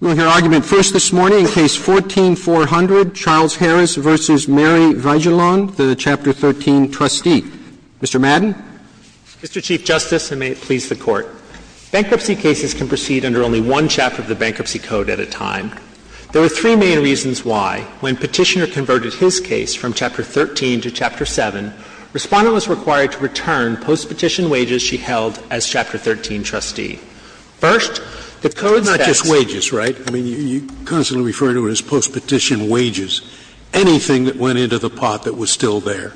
We will hear argument first this morning in Case 14-400, Charles Harris v. Mary Vigelahn, the Chapter 13 trustee. Mr. Madden. Mr. Chief Justice, and may it please the Court. Bankruptcy cases can proceed under only one chapter of the Bankruptcy Code at a time. There are three main reasons why, when Petitioner converted his case from Chapter 13 to Chapter 7, Respondent was required to return postpetition wages she held as Chapter 13 trustee. First, the Code says — Scalia Not just wages, right? I mean, you constantly refer to it as postpetition wages. Anything that went into the pot that was still there.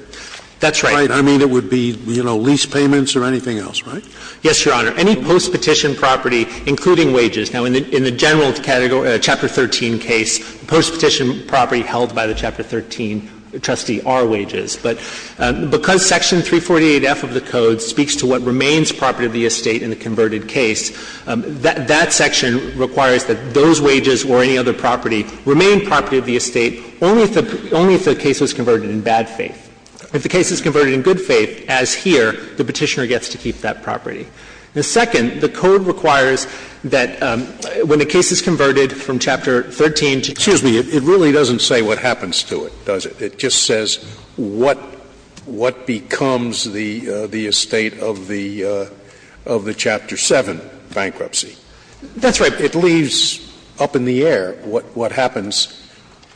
Bankruptcy, I mean, it would be, you know, lease payments or anything else, right? Mr. Madden Yes, Your Honor. Any postpetition property, including wages. Now, in the general Chapter 13 case, postpetition property held by the Chapter 13 trustee are wages. But because Section 348F of the Code speaks to what remains property of the estate in the converted case, that section requires that those wages or any other property remain property of the estate only if the case was converted in bad faith. If the case is converted in good faith, as here, the Petitioner gets to keep that property. And second, the Code requires that when a case is converted from Chapter 13 to Chapter 7— Scalia Excuse me. It really doesn't say what happens to it, does it? It just says what becomes the estate of the Chapter 7 bankruptcy. Mr. Madden That's right. Scalia It leaves up in the air what happens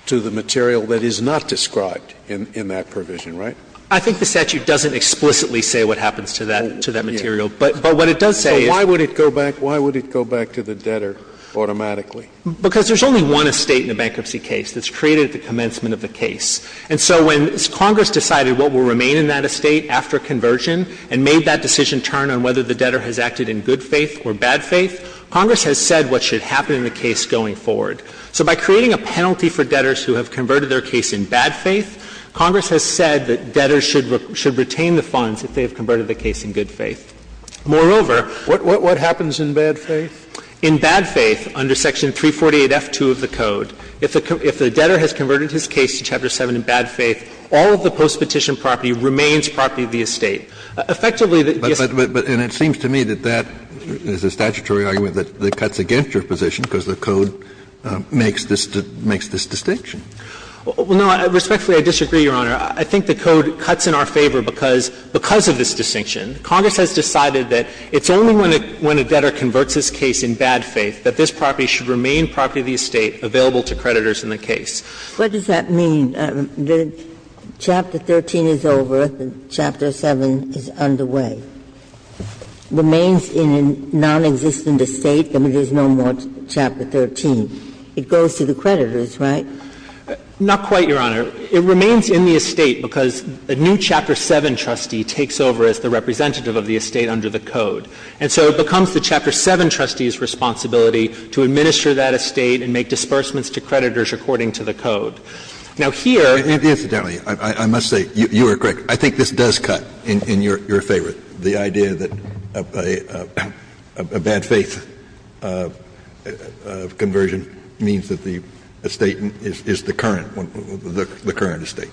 to the material that is not described in that provision, right? Mr. Madden I think the statute doesn't explicitly say what happens to that material. But what it does say is— Scalia So why would it go back to the debtor automatically? Mr. Madden Because there's only one estate in a bankruptcy case that's created at the commencement of the case. And so when Congress decided what will remain in that estate after conversion and made that decision turn on whether the debtor has acted in good faith or bad faith, Congress has said what should happen in the case going forward. So by creating a penalty for debtors who have converted their case in bad faith, Congress has said that debtors should retain the funds if they have converted the case in good faith. Moreover— Scalia What happens in bad faith? Mr. Madden In bad faith, under Section 348F2 of the Code, if the debtor has converted his case to Chapter 7 in bad faith, all of the postpetition property remains property of the estate. Effectively, the estate— Kennedy But it seems to me that that is a statutory argument that cuts against your position because the Code makes this distinction. Mr. Madden Well, no. Respectfully, I disagree, Your Honor. I think the Code cuts in our favor because of this distinction. Congress has decided that it's only when a debtor converts his case in bad faith that this property should remain property of the estate available to creditors in the case. Ginsburg What does that mean? The Chapter 13 is over, the Chapter 7 is underway. Remains in a nonexistent estate, there is no more Chapter 13. It goes to the creditors, right? Mr. Madden Not quite, Your Honor. It remains in the estate because a new Chapter 7 trustee takes over as the representative of the estate under the Code. And so it becomes the Chapter 7 trustee's responsibility to administer that estate and make disbursements to creditors according to the Code. Now, here— Kennedy Incidentally, I must say, you are correct. I think this does cut in your favor, the idea that a bad faith conversion means that the estate is the current one, the current estate.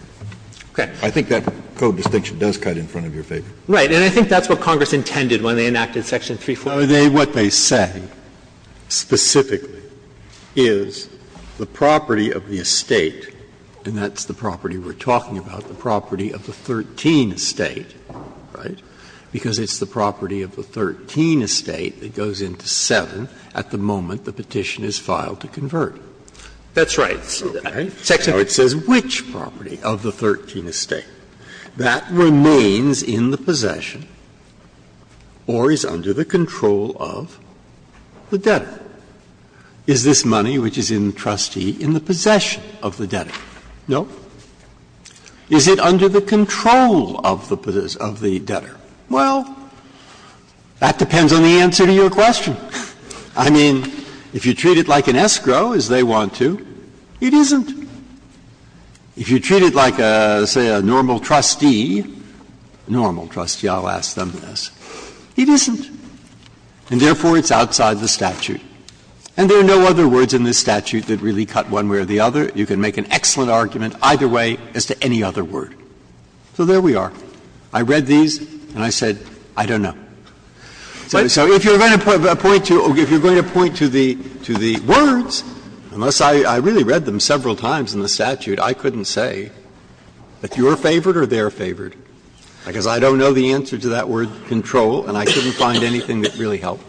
I think that Code distinction does cut in front of your favor. Right. And I think that's what Congress intended when they enacted Section 344. Scalia What they say specifically is the property of the estate, and that's the property we're talking about, the property of the 13 estate, right, because it's the property of the 13 estate that goes into 7 at the moment the petition is filed to convert. That's right. So it says which property of the 13 estate that remains in the possession or is under the control of the debtor? Is this money which is in the trustee in the possession of the debtor? No. Is it under the control of the debtor? Well, that depends on the answer to your question. I mean, if you treat it like an escrow, as they want to, it isn't. If you treat it like, say, a normal trustee, a normal trustee, I'll ask them this, it isn't, and therefore it's outside the statute. And there are no other words in this statute that really cut one way or the other. You can make an excellent argument either way as to any other word. So there we are. I read these and I said, I don't know. So if you're going to point to the words, unless I really read them several times in the statute, I couldn't say if you're favored or they're favored, because I don't know the answer to that word, control, and I couldn't find anything that really helped.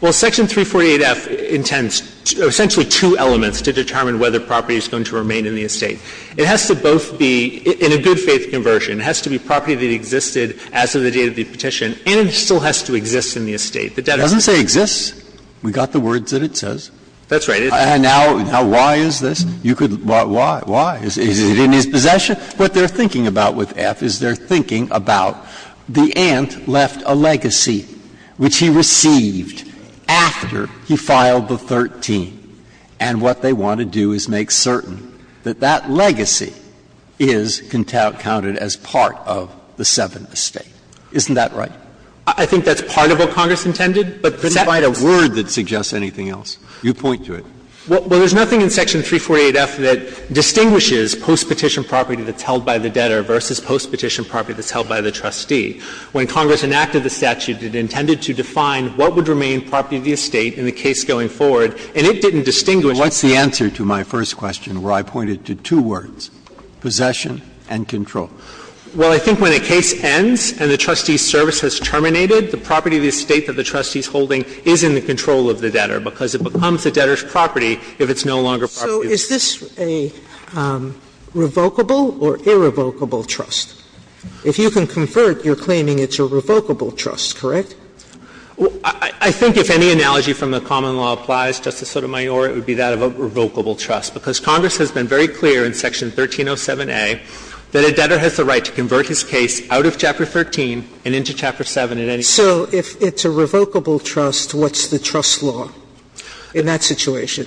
Well, Section 348F intends essentially two elements to determine whether property is going to remain in the estate. It has to both be in a good faith conversion. It has to be property that existed as of the date of the petition, and it still has to exist in the estate. The debtor doesn't say exists. We've got the words that it says. That's right. And now why is this? You could why? Why? Is it in his possession? What they're thinking about with F is they're thinking about the aunt left a legacy which he received after he filed the 13, and what they want to do is make certain that that legacy is counted as part of the Seventh Estate. Isn't that right? I think that's part of what Congress intended, but that's not a word that suggests anything else. You point to it. Well, there's nothing in Section 348F that distinguishes postpetition property that's held by the debtor versus postpetition property that's held by the trustee. When Congress enacted the statute, it intended to define what would remain property of the estate in the case going forward, and it didn't distinguish. What's the answer to my first question where I pointed to two words, possession and control? Well, I think when a case ends and the trustee's service has terminated, the property of the estate that the trustee's holding is in the control of the debtor, because it becomes the debtor's property if it's no longer property. So is this a revocable or irrevocable trust? If you can convert, you're claiming it's a revocable trust, correct? I think if any analogy from the common law applies, Justice Sotomayor, it would be that of a revocable trust, because Congress has been very clear in Section 1307A that a debtor has the right to convert his case out of Chapter 13 and into Chapter 7 at any time. So if it's a revocable trust, what's the trust law in that situation?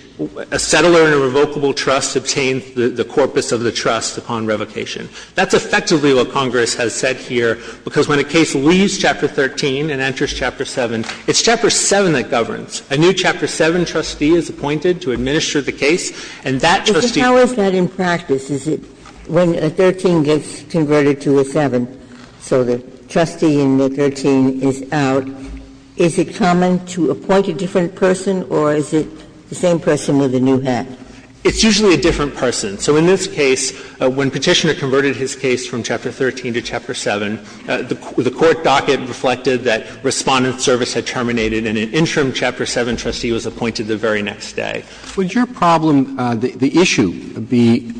A settler in a revocable trust obtains the corpus of the trust upon revocation. That's effectively what Congress has said here, because when a case leaves Chapter 13 and enters Chapter 7, it's Chapter 7 that governs. A new Chapter 7 trustee is appointed to administer the case, and that trustee goes to Chapter 7. Ginsburg. But how is that in practice? Is it when a 13 gets converted to a 7, so the trustee in the 13 is out, is it common to appoint a different person, or is it the same person with a new head? It's usually a different person. So in this case, when Petitioner converted his case from Chapter 13 to Chapter 7, the court docket reflected that Respondent Service had terminated in an interim period, so Chapter 7 trustee was appointed the very next day. Would your problem, the issue, be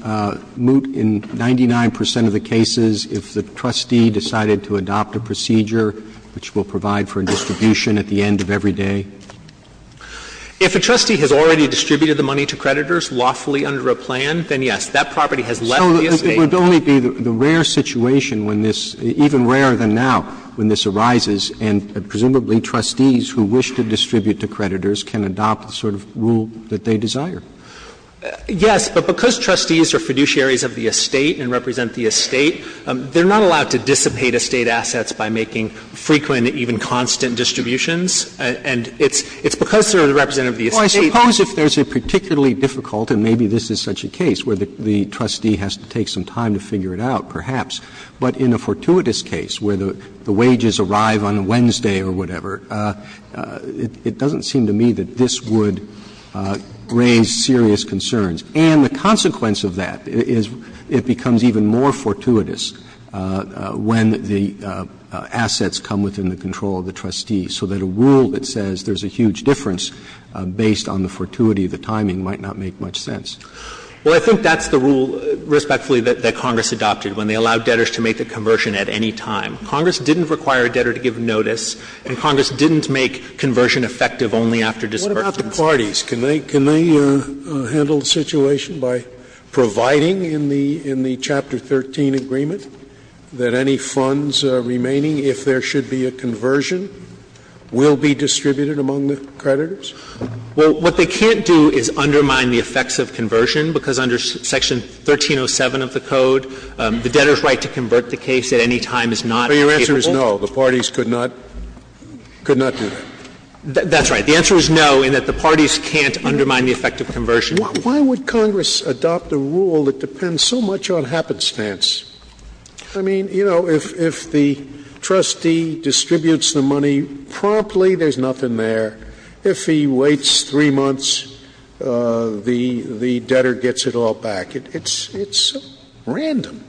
moot in 99 percent of the cases if the trustee decided to adopt a procedure which will provide for a distribution at the end of every day? If a trustee has already distributed the money to creditors lawfully under a plan, then yes, that property has left the estate. So it would only be the rare situation when this, even rarer than now, when this dispute to creditors can adopt the sort of rule that they desire. Yes, but because trustees are fiduciaries of the estate and represent the estate, they're not allowed to dissipate estate assets by making frequent, even constant, distributions. And it's because they're the representative of the estate that they can't. Well, I suppose if there's a particularly difficult, and maybe this is such a case where the trustee has to take some time to figure it out, perhaps, but in a fortuitous case, where the wages arrive on a Wednesday or whatever, it doesn't seem to me that this would raise serious concerns. And the consequence of that is it becomes even more fortuitous when the assets come within the control of the trustee, so that a rule that says there's a huge difference based on the fortuity of the timing might not make much sense. Well, I think that's the rule, respectfully, that Congress adopted when they allowed debtors to make the conversion at any time. Congress didn't require a debtor to give notice, and Congress didn't make conversion effective only after disbursement. Scalia. What about the parties? Can they handle the situation by providing in the Chapter 13 agreement that any funds remaining, if there should be a conversion, will be distributed among the creditors? Well, what they can't do is undermine the effects of conversion, because under Section 1307 of the Code, the debtor's right to convert the case at any time is not capable. But your answer is no, the parties could not do that. That's right. The answer is no, in that the parties can't undermine the effect of conversion. Why would Congress adopt a rule that depends so much on happenstance? I mean, you know, if the trustee distributes the money promptly, there's nothing there. If he waits three months, the debtor gets it all back. It's so random,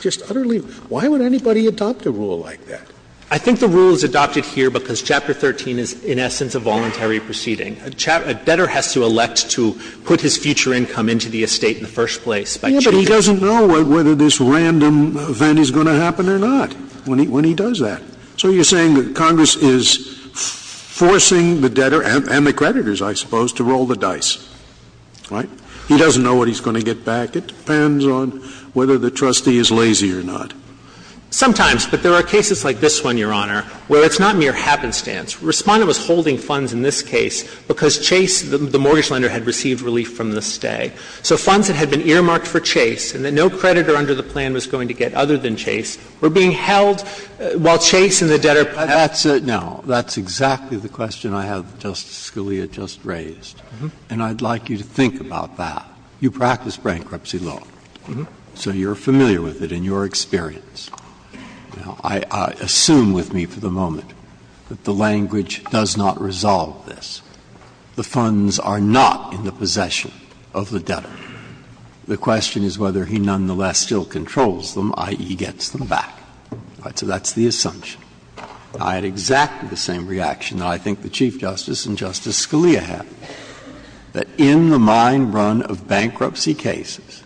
just utterly random. Why would anybody adopt a rule like that? I think the rule is adopted here because Chapter 13 is, in essence, a voluntary proceeding. A debtor has to elect to put his future income into the estate in the first place by changing the rules. Yes, but he doesn't know whether this random event is going to happen or not when he does that. So you're saying that Congress is forcing the debtor and the creditors, I suppose, to roll the dice, right? He doesn't know what he's going to get back. It depends on whether the trustee is lazy or not. Sometimes. But there are cases like this one, Your Honor, where it's not mere happenstance. Respondent was holding funds in this case because Chase, the mortgage lender, had received relief from the stay. So funds that had been earmarked for Chase and that no creditor under the plan was going to get other than Chase were being held while Chase and the debtor were paying it. No. That's exactly the question I have, Justice Scalia, just raised, and I'd like you to think about that. You practice bankruptcy law, so you're familiar with it in your experience. Now, I assume with me for the moment that the language does not resolve this. The funds are not in the possession of the debtor. The question is whether he nonetheless still controls them, i.e., gets them back. So that's the assumption. I had exactly the same reaction that I think the Chief Justice and Justice Scalia had, that in the mine run of bankruptcy cases,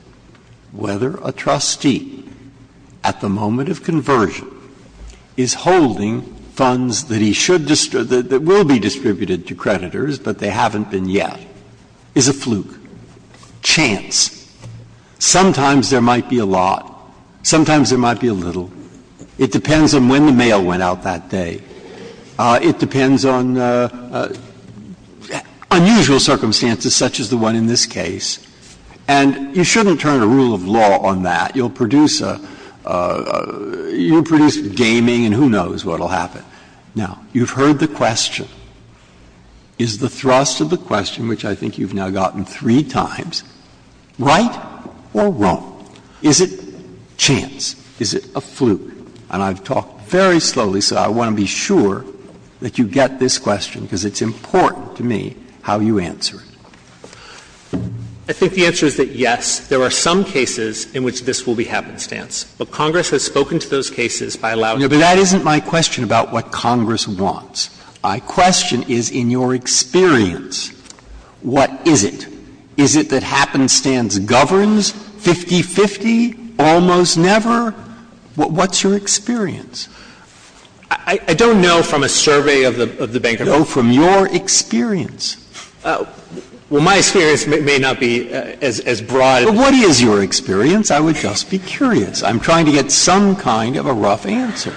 whether a trustee, at the moment of conversion, is holding funds that he should distribute, that will be distributed to creditors, but they haven't been yet, is a fluke. Chance. Sometimes there might be a lot. Sometimes there might be a little. It depends on when the mail went out that day. It depends on unusual circumstances such as the one in this case. And you shouldn't turn a rule of law on that. You'll produce a — you'll produce gaming and who knows what will happen. Now, you've heard the question. Is the thrust of the question, which I think you've now gotten three times, right or wrong? Is it chance? Is it a fluke? And I've talked very slowly, so I want to be sure that you get this question, because it's important to me how you answer it. I think the answer is that, yes, there are some cases in which this will be happenstance. But Congress has spoken to those cases by allowing them to be. But that isn't my question about what Congress wants. My question is in your experience, what is it? Is it that happenstance governs 50-50, almost never? What's your experience? I don't know from a survey of the Bank of America. No, from your experience. Well, my experience may not be as broad. Well, what is your experience? I would just be curious. I'm trying to get some kind of a rough answer.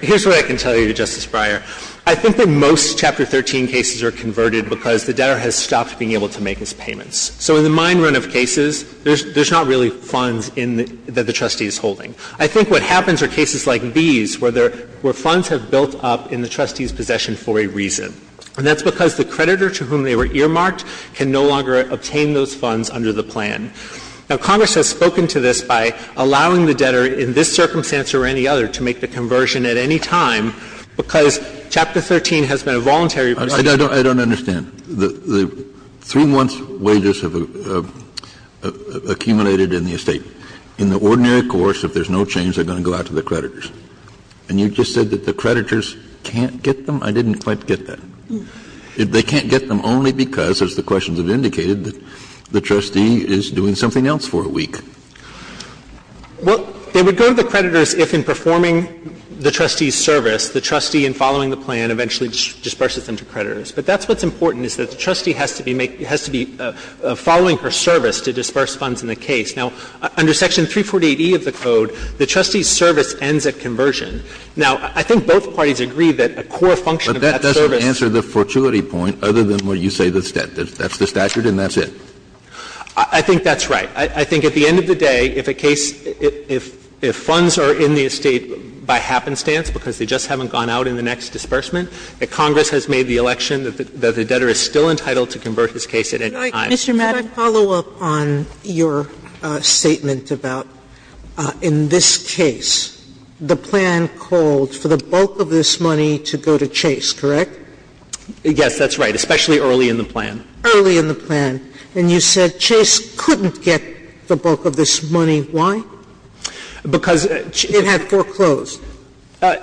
Here's what I can tell you, Justice Breyer. I think that most Chapter 13 cases are converted because the debtor has stopped being able to make his payments. So in the mine run of cases, there's not really funds that the trustee is holding. I think what happens are cases like these where funds have built up in the trustee's possession for a reason. And that's because the creditor to whom they were earmarked can no longer obtain those funds under the plan. Now, Congress has spoken to this by allowing the debtor in this circumstance or any other to make the conversion at any time because Chapter 13 has been a voluntary procedure. I don't understand. The three months' wages have accumulated in the estate. In the ordinary course, if there's no change, they're going to go out to the creditors. And you just said that the creditors can't get them? I didn't quite get that. They can't get them only because, as the questions have indicated, the trustee is doing something else for a week. Well, they would go to the creditors if, in performing the trustee's service, the trustee, in following the plan, eventually disperses them to creditors. But that's what's important is that the trustee has to be following her service to disperse funds in the case. Now, under Section 348E of the Code, the trustee's service ends at conversion. Now, I think both parties agree that a core function of that service But that doesn't answer the fortuity point other than what you say that's debt. That's the statute and that's it. I think that's right. I think at the end of the day, if a case, if funds are in the estate by happenstance because they just haven't gone out in the next disbursement, that Congress has made the election that the debtor is still entitled to convert his case at any time. Sotomayor, could I follow up on your statement about in this case, the plan called for the bulk of this money to go to Chase, correct? Yes, that's right, especially early in the plan. Early in the plan. And you said Chase couldn't get the bulk of this money. Why? Because it had foreclosed.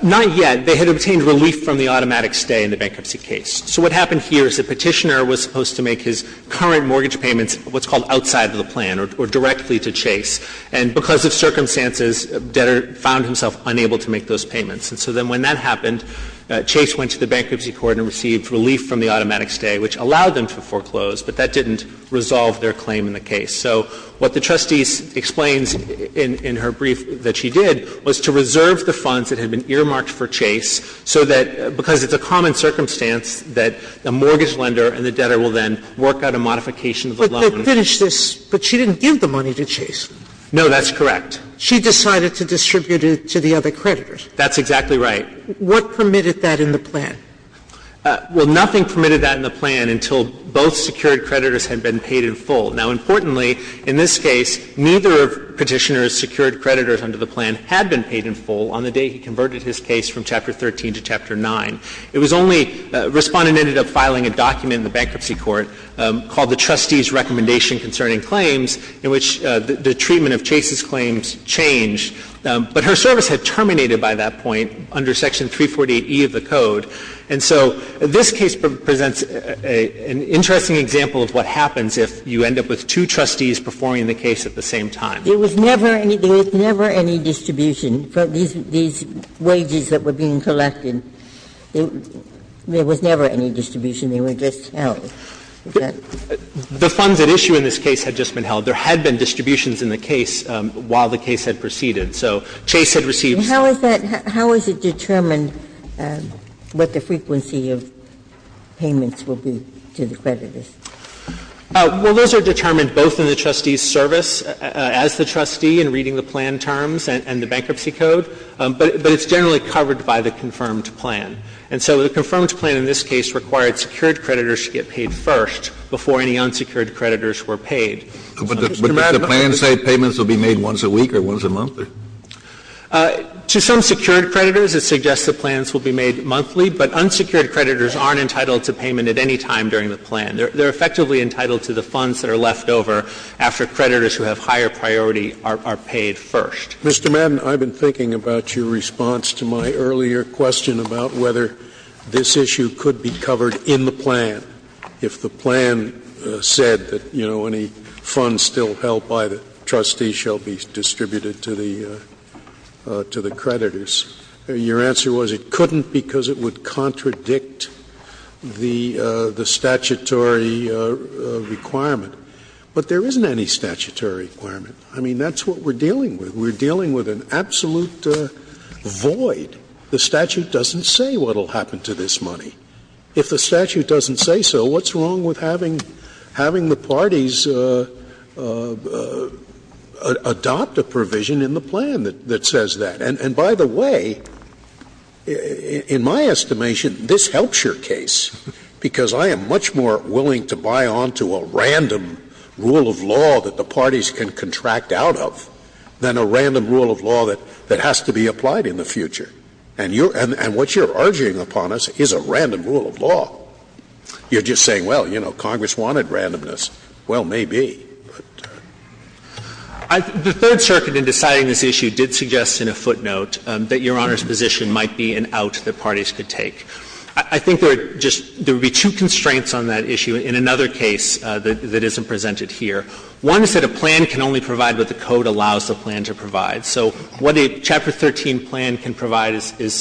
Not yet. They had obtained relief from the automatic stay in the bankruptcy case. So what happened here is the Petitioner was supposed to make his current mortgage payments what's called outside of the plan or directly to Chase. And because of circumstances, the debtor found himself unable to make those payments. And so then when that happened, Chase went to the bankruptcy court and received relief from the automatic stay, which allowed them to foreclose, but that didn't resolve their claim in the case. So what the trustee explains in her brief that she did was to reserve the funds that had been earmarked for Chase so that, because it's a common circumstance, that the mortgage lender and the debtor will then work out a modification of the loan. But they finished this, but she didn't give the money to Chase. No, that's correct. She decided to distribute it to the other creditors. That's exactly right. What permitted that in the plan? Well, nothing permitted that in the plan until both secured creditors had been paid in full. Now, importantly, in this case, neither of Petitioner's secured creditors under the plan had been paid in full on the day he converted his case from Chapter 13 to Chapter 9. It was only Respondent ended up filing a document in the bankruptcy court called the trustee's recommendation concerning claims in which the treatment of Chase's claims changed. But her service had terminated by that point under Section 348e of the Code. And so this case presents an interesting example of what happens if you end up with two trustees performing the case at the same time. There was never any distribution for these wages that were being collected. And there was never any distribution. They were just held. The funds at issue in this case had just been held. There had been distributions in the case while the case had proceeded. So Chase had received some. How is that – how is it determined what the frequency of payments will be to the creditors? Well, those are determined both in the trustee's service as the trustee in reading the plan terms and the bankruptcy code. But it's generally covered by the confirmed plan. And so the confirmed plan in this case required secured creditors to get paid first before any unsecured creditors were paid. But does the plan say payments will be made once a week or once a month? To some secured creditors, it suggests that plans will be made monthly. But unsecured creditors aren't entitled to payment at any time during the plan. They're effectively entitled to the funds that are left over after creditors who have higher priority are paid first. Mr. Madden, I've been thinking about your response to my earlier question about whether this issue could be covered in the plan if the plan said that, you know, any funds still held by the trustees shall be distributed to the creditors. Your answer was it couldn't because it would contradict the statutory requirement. But there isn't any statutory requirement. I mean, that's what we're dealing with. We're dealing with an absolute void. The statute doesn't say what will happen to this money. If the statute doesn't say so, what's wrong with having the parties adopt a provision in the plan that says that? And by the way, in my estimation, this helps your case because I am much more willing to buy on to a random rule of law that the parties can contract out of than a random rule of law that has to be applied in the future. And what you're urging upon us is a random rule of law. You're just saying, well, you know, Congress wanted randomness. Well, maybe, but. The Third Circuit in deciding this issue did suggest in a footnote that Your Honor's position might be an out that parties could take. I think there are just — there would be two constraints on that issue in another case that isn't presented here. One is that a plan can only provide what the code allows the plan to provide. So what a Chapter 13 plan can provide is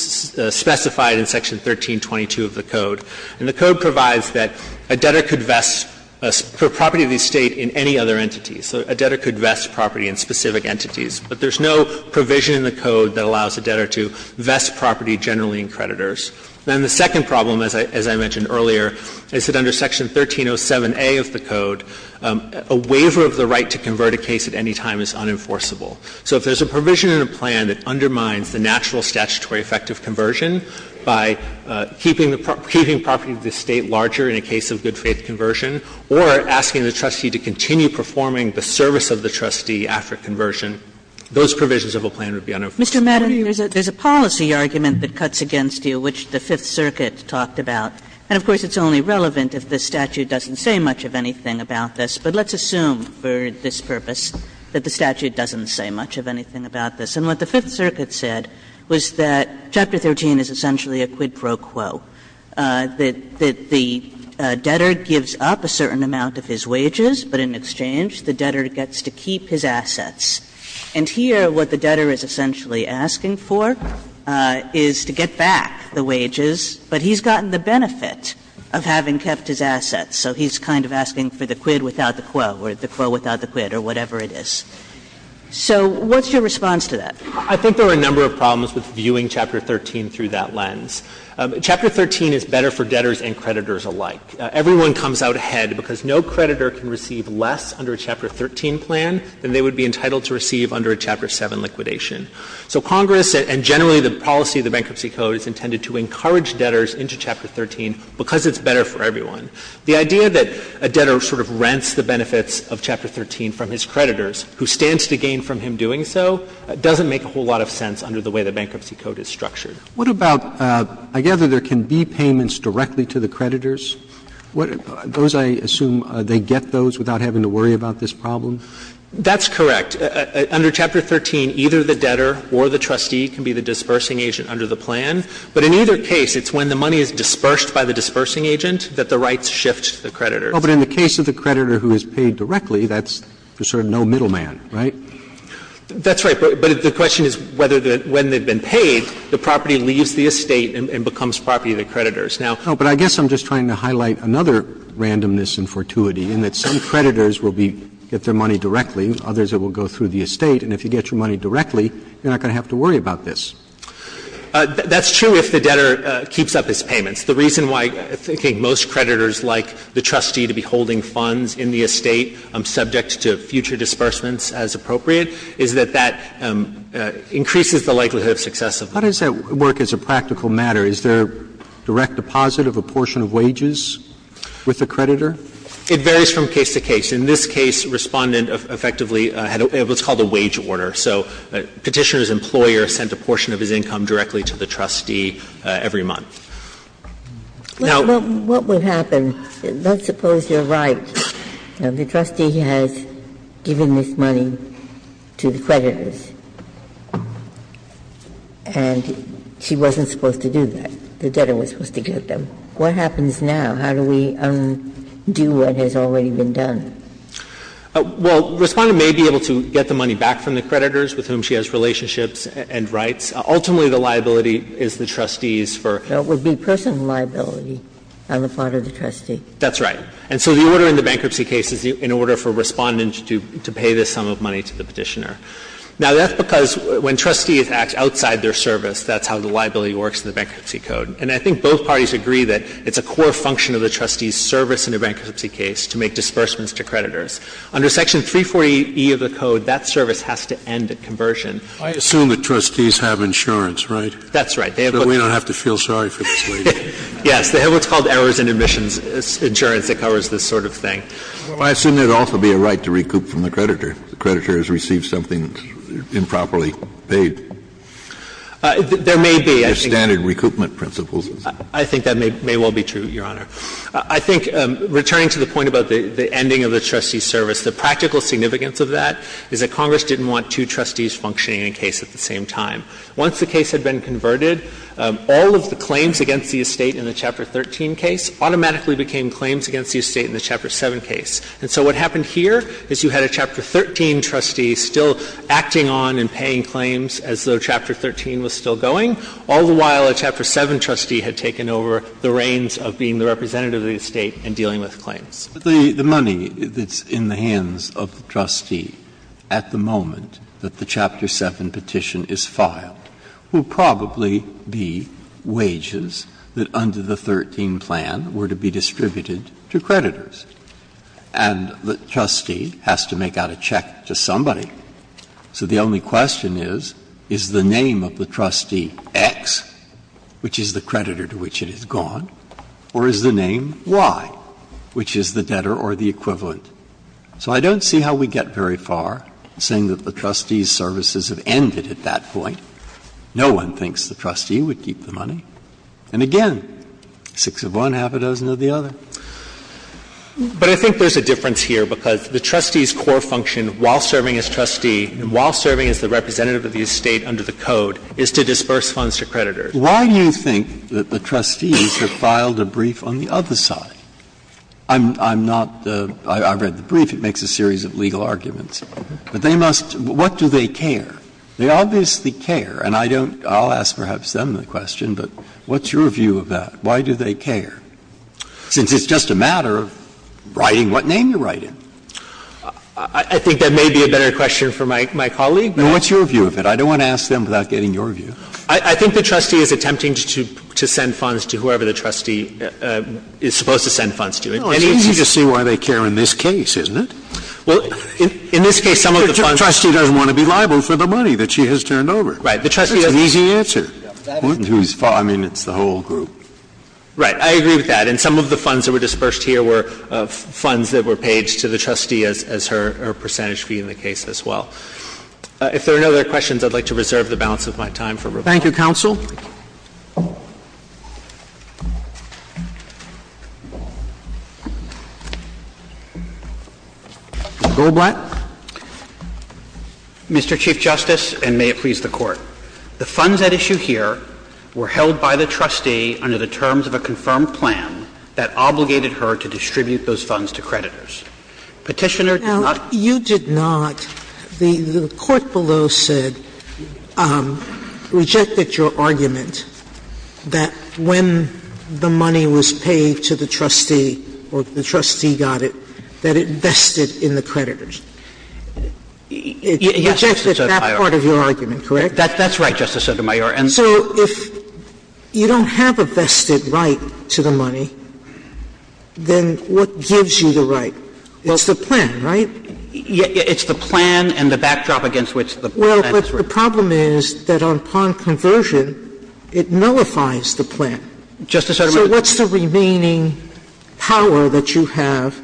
specified in Section 1322 of the code. And the code provides that a debtor could vest a property of the estate in any other entity. So a debtor could vest property in specific entities. But there's no provision in the code that allows a debtor to vest property generally in creditors. Then the second problem, as I mentioned earlier, is that under Section 1307a of the code, a waiver of the right to convert a case at any time is unenforceable. So if there's a provision in a plan that undermines the natural statutory effect of conversion by keeping the property of the estate larger in a case of good-faith conversion or asking the trustee to continue performing the service of the trustee after conversion, those provisions of a plan would be unenforced. Kagan. Kagan. Kagan. And, Mr. Matterly, there's a policy argument that cuts against you which the Fifth Circuit talked about. And, of course, it's only relevant if the statute doesn't say much of anything about this. But let's assume for this purpose that the statute doesn't say much of anything about this. And what the Fifth Circuit said was that Chapter 13 is essentially a quid pro quo, that the debtor gives up a certain amount of his wages, but in exchange the debtor gets to keep his assets. And here what the debtor is essentially asking for is to get back the wages, but he's gotten the benefit of having kept his assets. So he's kind of asking for the quid without the quo, or the quo without the quid, or whatever it is. So what's your response to that? I think there are a number of problems with viewing Chapter 13 through that lens. Chapter 13 is better for debtors and creditors alike. Everyone comes out ahead because no creditor can receive less under a Chapter 13 plan than they would be entitled to receive under a Chapter 7 liquidation. So Congress, and generally the policy of the Bankruptcy Code, is intended to encourage debtors into Chapter 13 because it's better for everyone. The idea that a debtor sort of rents the benefits of Chapter 13 from his creditors, who stands to gain from him doing so, doesn't make a whole lot of sense under the way the Bankruptcy Code is structured. Roberts What about, I gather there can be payments directly to the creditors? Those, I assume, they get those without having to worry about this problem? That's correct. Under Chapter 13, either the debtor or the trustee can be the dispersing agent under the plan. But in either case, it's when the money is dispersed by the dispersing agent that the rights shift to the creditor. But in the case of the creditor who is paid directly, that's sort of no middleman, right? That's right. But the question is whether the – when they've been paid, the property leaves the estate and becomes property of the creditors. Now – No, but I guess I'm just trying to highlight another randomness and fortuity in that some creditors will be – get their money directly, others it will go through the estate, and if you get your money directly, you're not going to have to worry about this. That's true if the debtor keeps up his payments. The reason why I think most creditors like the trustee to be holding funds in the increases the likelihood of success of the plan. Roberts How does that work as a practical matter? Is there direct deposit of a portion of wages with the creditor? It varies from case to case. In this case, Respondent effectively had what's called a wage order. So Petitioner's employer sent a portion of his income directly to the trustee every month. Now – What would happen? Let's suppose you're right. The trustee has given this money to the creditors. And she wasn't supposed to do that. The debtor was supposed to get them. What happens now? How do we undo what has already been done? Well, Respondent may be able to get the money back from the creditors with whom she has relationships and rights. Ultimately, the liability is the trustee's for – So it would be personal liability on the part of the trustee. That's right. And so the order in the bankruptcy case is in order for Respondent to pay this sum of money to the Petitioner. Now, that's because when trustees act outside their service, that's how the liability works in the bankruptcy code. And I think both parties agree that it's a core function of the trustee's service in a bankruptcy case to make disbursements to creditors. Under Section 340e of the code, that service has to end at conversion. I assume the trustees have insurance, right? That's right. They have what's called – So we don't have to feel sorry for this lady. Yes. They have what's called errors in admissions insurance that covers this sort of thing. Well, I assume there would also be a right to recoup from the creditor. The creditor has received something improperly paid. There may be. There are standard recoupment principles. I think that may well be true, Your Honor. I think, returning to the point about the ending of the trustee's service, the practical significance of that is that Congress didn't want two trustees functioning in a case at the same time. Once the case had been converted, all of the claims against the estate in the Chapter 13 case automatically became claims against the estate in the Chapter 7 case. And so what happened here is you had a Chapter 13 trustee still acting on and paying claims as though Chapter 13 was still going, all the while a Chapter 7 trustee had taken over the reins of being the representative of the estate and dealing with claims. The money that's in the hands of the trustee at the moment that the Chapter 7 petition is filed will probably be wages that under the 13 plan were to be distributed to creditors. And the trustee has to make out a check to somebody. So the only question is, is the name of the trustee X, which is the creditor to which it is gone, or is the name Y, which is the debtor or the equivalent? So I don't see how we get very far saying that the trustee's services have ended at that point. No one thinks the trustee would keep the money. And again, six of one, half a dozen of the other. But I think there's a difference here, because the trustee's core function while serving as trustee and while serving as the representative of the estate under the Code is to disperse funds to creditors. Breyer, why do you think that the trustees have filed a brief on the other side? I'm not the – I've read the brief. It makes a series of legal arguments. But they must – what do they care? They obviously care, and I don't – I'll ask perhaps them the question, but what's your view of that? Why do they care? Since it's just a matter of writing what name you write in. I think that may be a better question for my colleague, but – What's your view of it? I don't want to ask them without getting your view. I think the trustee is attempting to send funds to whoever the trustee is supposed to send funds to. It's easy to see why they care in this case, isn't it? Well, in this case, some of the funds – The trustee doesn't want to be liable for the money that she has turned over. Right. The trustee doesn't – That's an easy answer. I mean, it's the whole group. Right. I agree with that. And some of the funds that were dispersed here were funds that were paid to the trustee as her percentage fee in the case as well. If there are no other questions, I'd like to reserve the balance of my time for rebuttal. Thank you, counsel. Mr. Goldblatt. Mr. Chief Justice, and may it please the Court. The funds at issue here were held by the trustee under the terms of a confirmed plan that obligated her to distribute those funds to creditors. Petitioner did not – Now, you did not – the court below said, rejected your argument that when the money was paid to the trustee or the trustee got it, that it vested in the creditors. It rejected that part of your argument, correct? That's right, Justice Sotomayor. And so if you don't have a vested right to the money, then what gives you the right? It's the plan, right? It's the plan and the backdrop against which the plan is written. Well, but the problem is that upon conversion, it nullifies the plan. Justice Sotomayor. So what's the remaining power that you have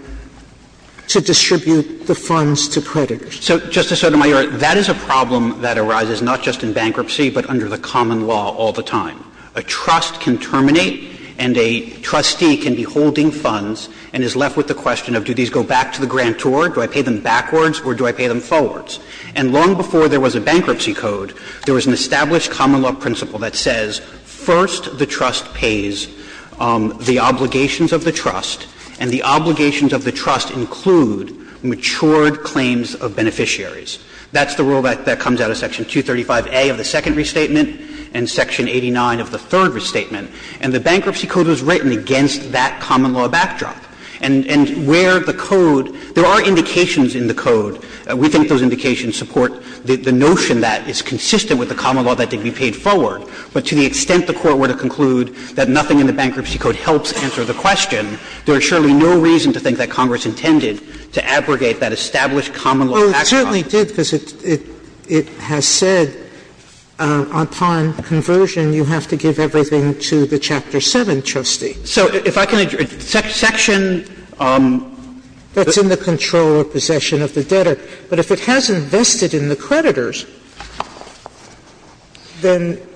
to distribute the funds to creditors? So, Justice Sotomayor, that is a problem that arises not just in bankruptcy, but under the common law all the time. A trust can terminate and a trustee can be holding funds and is left with the question of do these go back to the grantor, do I pay them backwards or do I pay them forwards. And long before there was a bankruptcy code, there was an established common law principle that says first the trust pays the obligations of the trust, and the obligations of the trust include matured claims of beneficiaries. That's the rule that comes out of Section 235A of the second restatement and Section 89 of the third restatement. And the bankruptcy code was written against that common law backdrop. And where the code – there are indications in the code, we think those indications support the notion that it's consistent with the common law that they can be paid forward, but to the extent the Court were to conclude that nothing in the bankruptcy code helps answer the question, there is surely no reason to think that Congress intended to abrogate that established common law backdrop. Sotomayor It certainly did, because it has said upon conversion you have to give everything to the Chapter 7 trustee. So if I can interject, Section – Sotomayor That's in the control or possession of the debtor. But if it has invested in the creditors, then –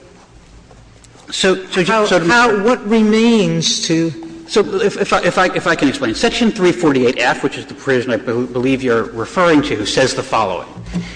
Sotomayor What remains to – Roberts So if I can explain. Section 348F, which is the provision I believe you are referring to, says the following.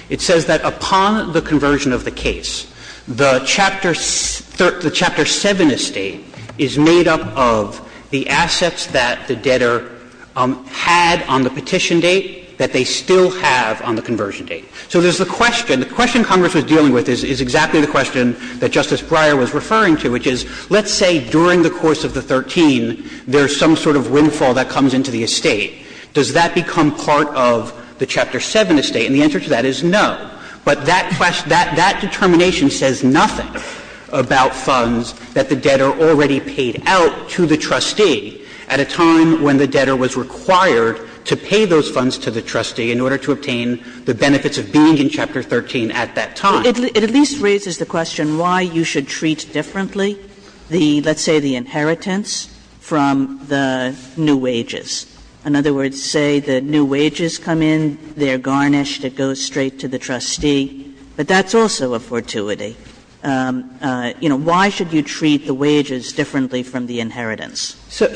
It says that upon the conversion of the case, the Chapter 7 estate is made up of the assets that the debtor had on the petition date that they still have on the conversion date. So there's the question. The question Congress was dealing with is exactly the question that Justice Breyer was referring to, which is, let's say during the course of the 13, there's some sort of windfall that comes into the estate. Does that become part of the Chapter 7 estate? And the answer to that is no. But that question – that determination says nothing about funds that the debtor already paid out to the trustee at a time when the debtor was required to pay those funds to the trustee in order to obtain the benefits of being in Chapter 13 at that time. Kagan It at least raises the question why you should treat differently the, let's say, the inheritance from the new wages. In other words, say the new wages come in, they are garnished, it goes straight to the trustee, but that's also a fortuity. You know, why should you treat the wages differently from the inheritance? So,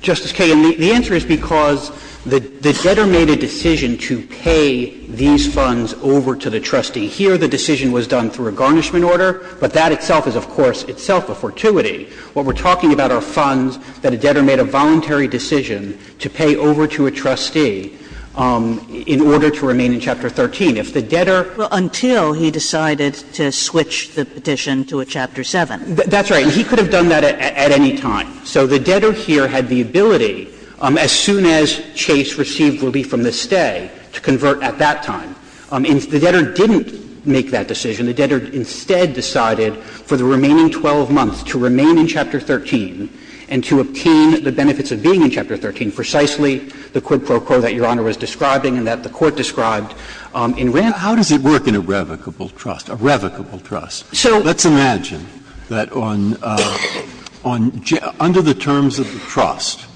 Justice Kagan, the answer is because the debtor made a decision to pay these funds over to the trustee. Here, the decision was done through a garnishment order, but that itself is, of course, itself a fortuity. What we're talking about are funds that a debtor made a voluntary decision to pay over to a trustee in order to remain in Chapter 13. If the debtor – Kagan Well, until he decided to switch the petition to a Chapter 7. Waxman That's right. And he could have done that at any time. So the debtor here had the ability, as soon as Chase received relief from the stay, to convert at that time. And the debtor didn't make that decision. The debtor instead decided for the remaining 12 months to remain in Chapter 13 and to obtain the benefits of being in Chapter 13, precisely the quid pro quo that Your Honor was describing and that the Court described in Randolph. Breyer How does it work in a revocable trust? A revocable trust. Let's imagine that on – under the terms of the trust,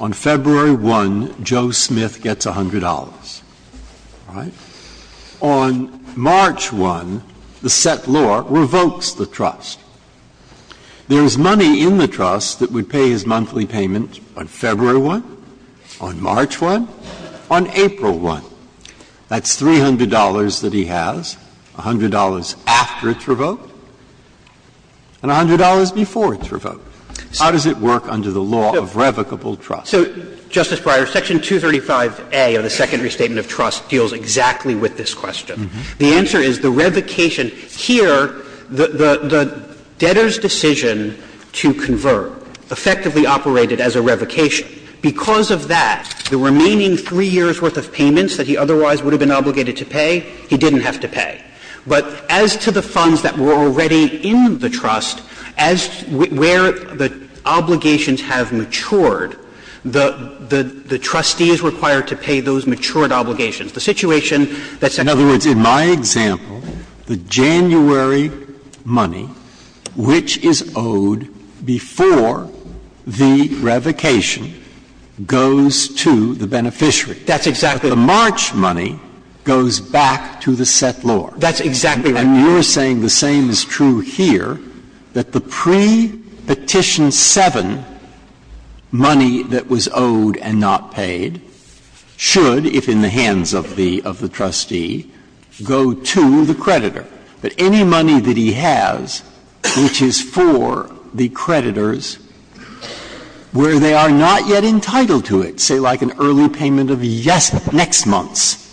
on February 1, Joe Smith gets $100. All right? On March 1, the set law revokes the trust. There is money in the trust that would pay his monthly payment on February 1, on March 1, on April 1. That's $300 that he has, $100 after it's revoked, and $100 before it's revoked. How does it work under the law of revocable trust? So, Justice Breyer, Section 235a of the Second Restatement of Trust deals exactly with this question. The answer is the revocation. Here, the debtor's decision to convert effectively operated as a revocation. Because of that, the remaining 3 years' worth of payments that he otherwise would have been obligated to pay, he didn't have to pay. But as to the funds that were already in the trust, as – where the obligations have matured, the – the trustee is required to pay those matured obligations. The situation that's in other words, in my example, the January money, which is owed before the revocation, goes to the beneficiary. That's exactly right. The March money goes back to the set law. That's exactly right. And you're saying the same is true here, that the pre-Petition 7 money that was owed and not paid should, if in the hands of the – of the trustee, go to the creditor. That any money that he has, which is for the creditors, where they are not yet entitled to it, say like an early payment of the next month's,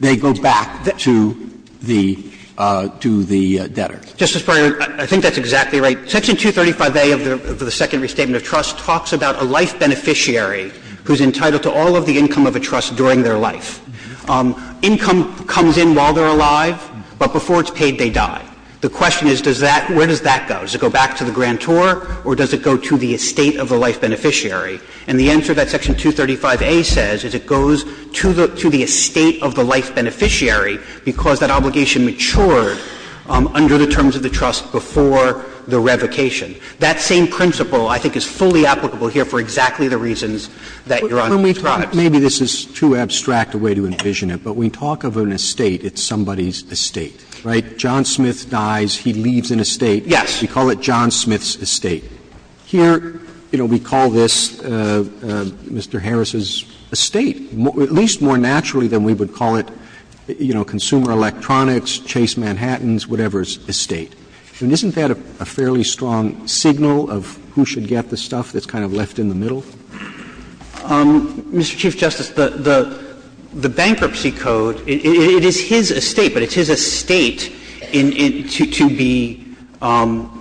they go back to the debtor. Justice Breyer, I think that's exactly right. Section 235A of the Second Restatement of Trust talks about a life beneficiary who's entitled to all of the income of a trust during their life. Income comes in while they're alive, but before it's paid, they die. The question is, does that – where does that go? Does it go back to the grantor or does it go to the estate of the life beneficiary? And the answer that Section 235A says is it goes to the – to the estate of the life beneficiary because that obligation matured under the terms of the trust before the revocation. That same principle, I think, is fully applicable here for exactly the reasons that Your Honor describes. Roberts. Maybe this is too abstract a way to envision it, but we talk of an estate, it's somebody's estate, right? John Smith dies, he leaves an estate. Yes. We call it John Smith's estate. Here, you know, we call this Mr. Harris's estate, at least more naturally than we would call it, you know, Consumer Electronics, Chase Manhattan's, whatever's estate. And isn't that a fairly strong signal of who should get the stuff that's kind of left in the middle? Mr. Chief Justice, the bankruptcy code, it is his estate, but it's his estate to be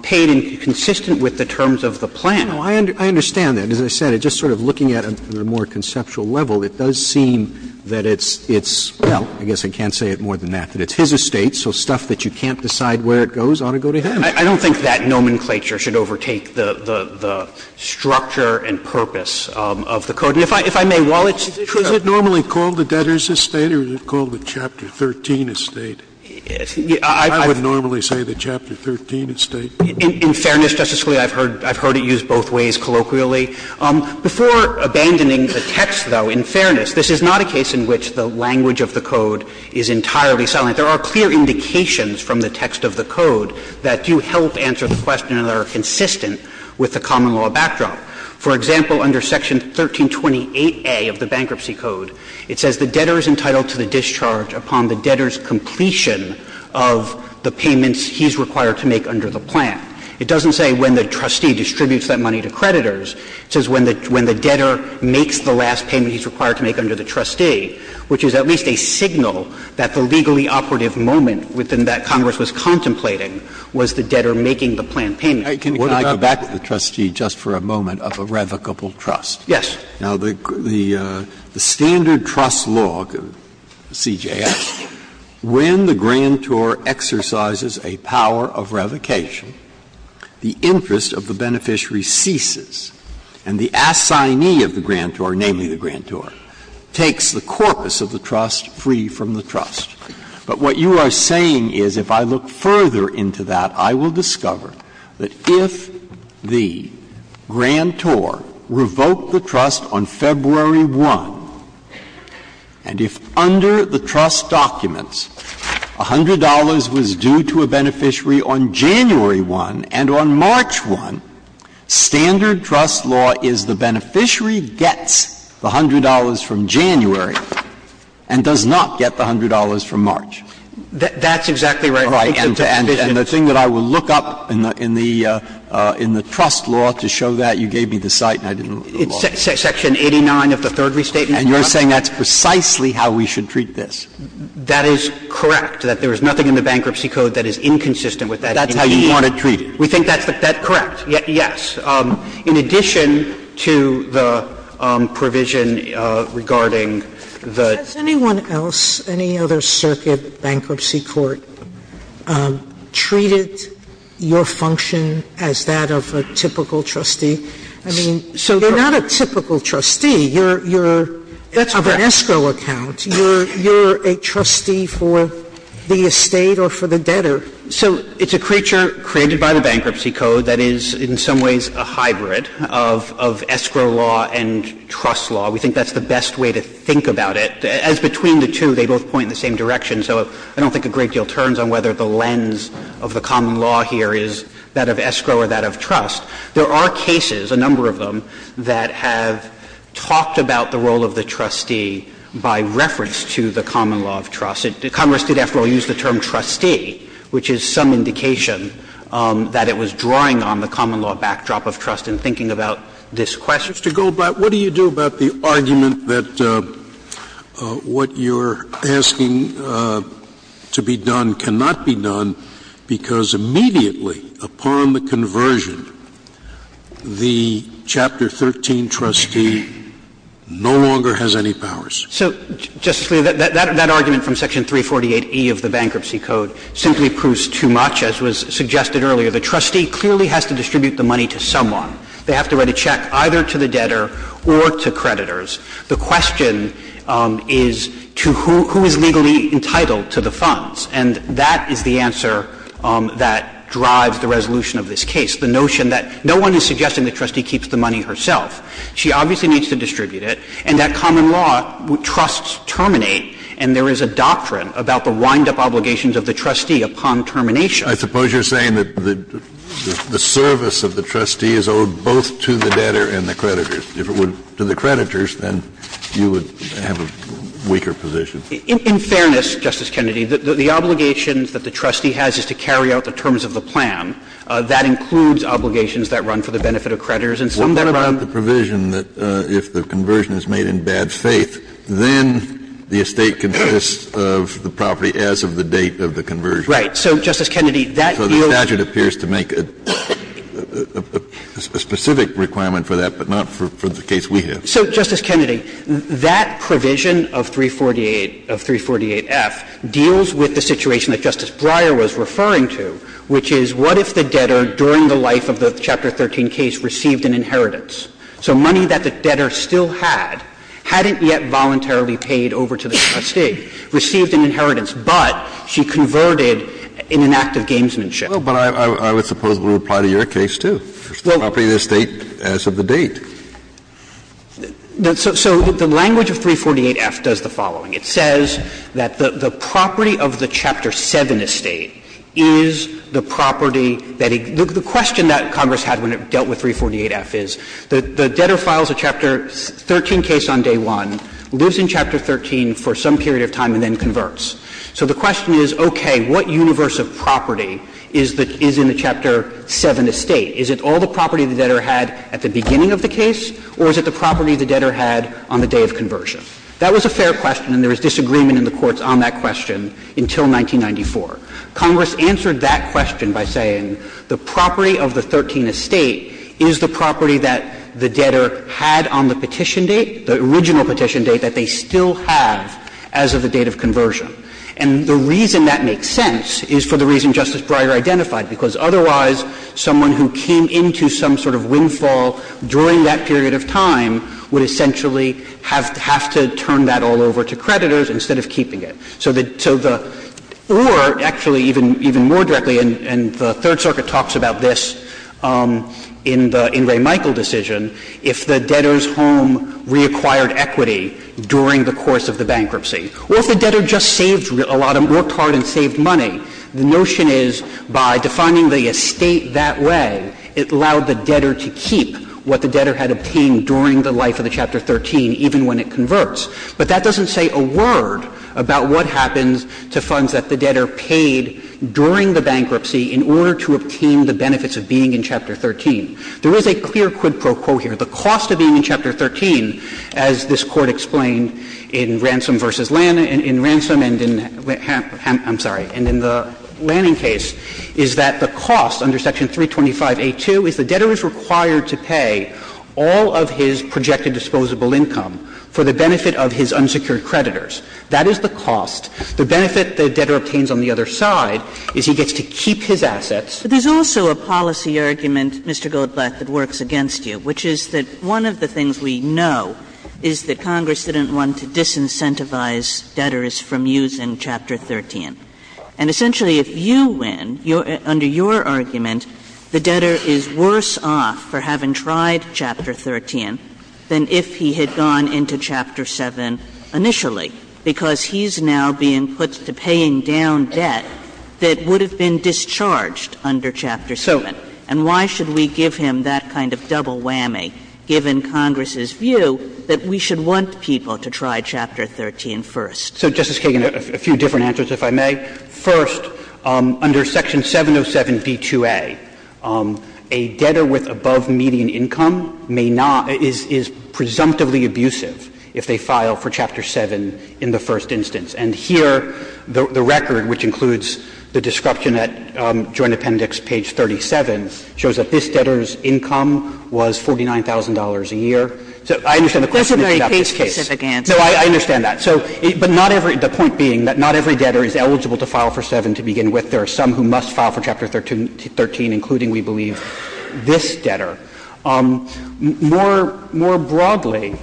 paid and consistent with the terms of the plan. No, I understand that. As I said, just sort of looking at it on a more conceptual level, it does seem that it's – it's, well, I guess I can't say it more than that, that it's his estate, so stuff that you can't decide where it goes ought to go to him. I don't think that nomenclature should overtake the structure and purpose of the code. If I may, while it's true, it's not the same thing. Is it normally called the debtor's estate or is it called the Chapter 13 estate? I would normally say the Chapter 13 estate. In fairness, Justice Scalia, I've heard it used both ways colloquially. Before abandoning the text, though, in fairness, this is not a case in which the language of the code is entirely silent. There are clear indications from the text of the code that do help answer the question that are consistent with the common law backdrop. For example, under Section 1328A of the bankruptcy code, it says, The debtor is entitled to the discharge upon the debtor's completion of the payments he's required to make under the plan. It doesn't say when the trustee distributes that money to creditors. It says when the debtor makes the last payment he's required to make under the trustee, which is at least a signal that the legally operative moment within that Congress was contemplating was the debtor making the plan payment. Breyer. Can I go back to the trustee just for a moment of irrevocable trust? Yes. Now, the standard trust law, CJF, when the grantor exercises a power of revocation, the interest of the beneficiary ceases and the assignee of the grantor, namely the grantor, takes the corpus of the trust free from the trust. But what you are saying is if I look further into that, I will discover that if the grantor revoked the trust on February 1 and if under the trust documents $100 was due to a beneficiary on January 1 and on March 1, standard trust law is the beneficiary gets the $100 from January and does not get the $100 from March. That's exactly right. And the thing that I will look up in the trust law to show that, you gave me the site and I didn't look at the law. It's section 89 of the third restatement. And you're saying that's precisely how we should treat this? That is correct, that there is nothing in the Bankruptcy Code that is inconsistent with that. That's how you want to treat it. We think that's correct, yes. In addition to the provision regarding the ---- Sotomayor, has anyone else, any other circuit, bankruptcy court, treated your function as that of a typical trustee? I mean, you're not a typical trustee. You're of an escrow account. You're a trustee for the estate or for the debtor. So it's a creature created by the Bankruptcy Code that is in some ways a hybrid of escrow law and trust law. We think that's the best way to think about it. As between the two, they both point in the same direction. So I don't think a great deal turns on whether the lens of the common law here is that of escrow or that of trust. There are cases, a number of them, that have talked about the role of the trustee by reference to the common law of trust. Congress did, after all, use the term trustee, which is some indication that it was drawing on the common law backdrop of trust in thinking about this question. Mr. Goldblatt, what do you do about the argument that what you're asking to be done cannot be done because immediately upon the conversion, the Chapter 13 trustee no longer has any powers? So, Justice Scalia, that argument from Section 348e of the Bankruptcy Code simply proves too much, as was suggested earlier. The trustee clearly has to distribute the money to someone. They have to write a check either to the debtor or to creditors. The question is to who is legally entitled to the funds. And that is the answer that drives the resolution of this case, the notion that no one is suggesting the trustee keeps the money herself. She obviously needs to distribute it. And that common law trusts terminate, and there is a doctrine about the wind-up obligations of the trustee upon termination. I suppose you're saying that the service of the trustee is owed both to the debtor and the creditors. If it were to the creditors, then you would have a weaker position. In fairness, Justice Kennedy, the obligations that the trustee has is to carry out the terms of the plan. That includes obligations that run for the benefit of creditors and some that run What about the provision that if the conversion is made in bad faith, then the estate consists of the property as of the date of the conversion? Right. So, Justice Kennedy, that deals So the statute appears to make a specific requirement for that, but not for the case we have. So, Justice Kennedy, that provision of 348 of 348F deals with the situation that Justice Breyer was referring to, which is what if the debtor during the life of the Chapter 13 case received an inheritance? So money that the debtor still had, hadn't yet voluntarily paid over to the trustee, received an inheritance, but she converted in an act of gamesmanship. Well, but I would suppose it would apply to your case, too. The property of the estate as of the date. So the language of 348F does the following. It says that the property of the Chapter 7 estate is the property that he the question that Congress had when it dealt with 348F is the debtor files a Chapter 13 case on and then converts. So the question is, okay, what universe of property is in the Chapter 7 estate? Is it all the property the debtor had at the beginning of the case, or is it the property the debtor had on the day of conversion? That was a fair question, and there was disagreement in the courts on that question until 1994. Congress answered that question by saying the property of the 13 estate is the property that the debtor had on the petition date, the original petition date that they still have as of the date of conversion. And the reason that makes sense is for the reason Justice Breyer identified, because otherwise someone who came into some sort of windfall during that period of time would essentially have to turn that all over to creditors instead of keeping it. So the — or, actually, even more directly, and the Third Circuit talks about this in the — in Ray Michael decision, if the debtor's home reacquired equity during the course of the bankruptcy, or if the debtor just saved a lot of — worked hard and saved money, the notion is by defining the estate that way, it allowed the debtor to keep what the debtor had obtained during the life of the Chapter 13, even when it converts. But that doesn't say a word about what happens to funds that the debtor paid during the bankruptcy in order to obtain the benefits of being in Chapter 13. There is a clear quid pro quo here. The cost of being in Chapter 13, as this Court explained in Ransom v. Lan — in Ransom and in Ham — I'm sorry, and in the Lanning case, is that the cost under Section 325a2 is the debtor is required to pay all of his projected disposable income for the benefit of his unsecured creditors. That is the cost. The benefit the debtor obtains on the other side is he gets to keep his assets. Kagan. But there's also a policy argument, Mr. Goldblatt, that works against you, which is that one of the things we know is that Congress didn't want to disincentivize debtors from using Chapter 13. And essentially, if you win, under your argument, the debtor is worse off for having tried Chapter 13 than if he had gone into Chapter 7 initially, because he's now being put to paying down debt that would have been discharged under Chapter 7. And why should we give him that kind of double whammy, given Congress's view, that we should want people to try Chapter 13 first? So, Justice Kagan, a few different answers, if I may. First, under Section 707b2a, a debtor with above median income may not — is presumptively abusive if they file for Chapter 7 in the first instance. And here, the record, which includes the description at Joint Appendix page 37, shows that this debtor's income was $49,000 a year. So I understand the question about this case. Kagan. That's a very case-specific answer. No, I understand that. So — but not every — the point being that not every debtor is eligible to file for 7 to begin with. There are some who must file for Chapter 13, including, we believe, this debtor. More — more broadly,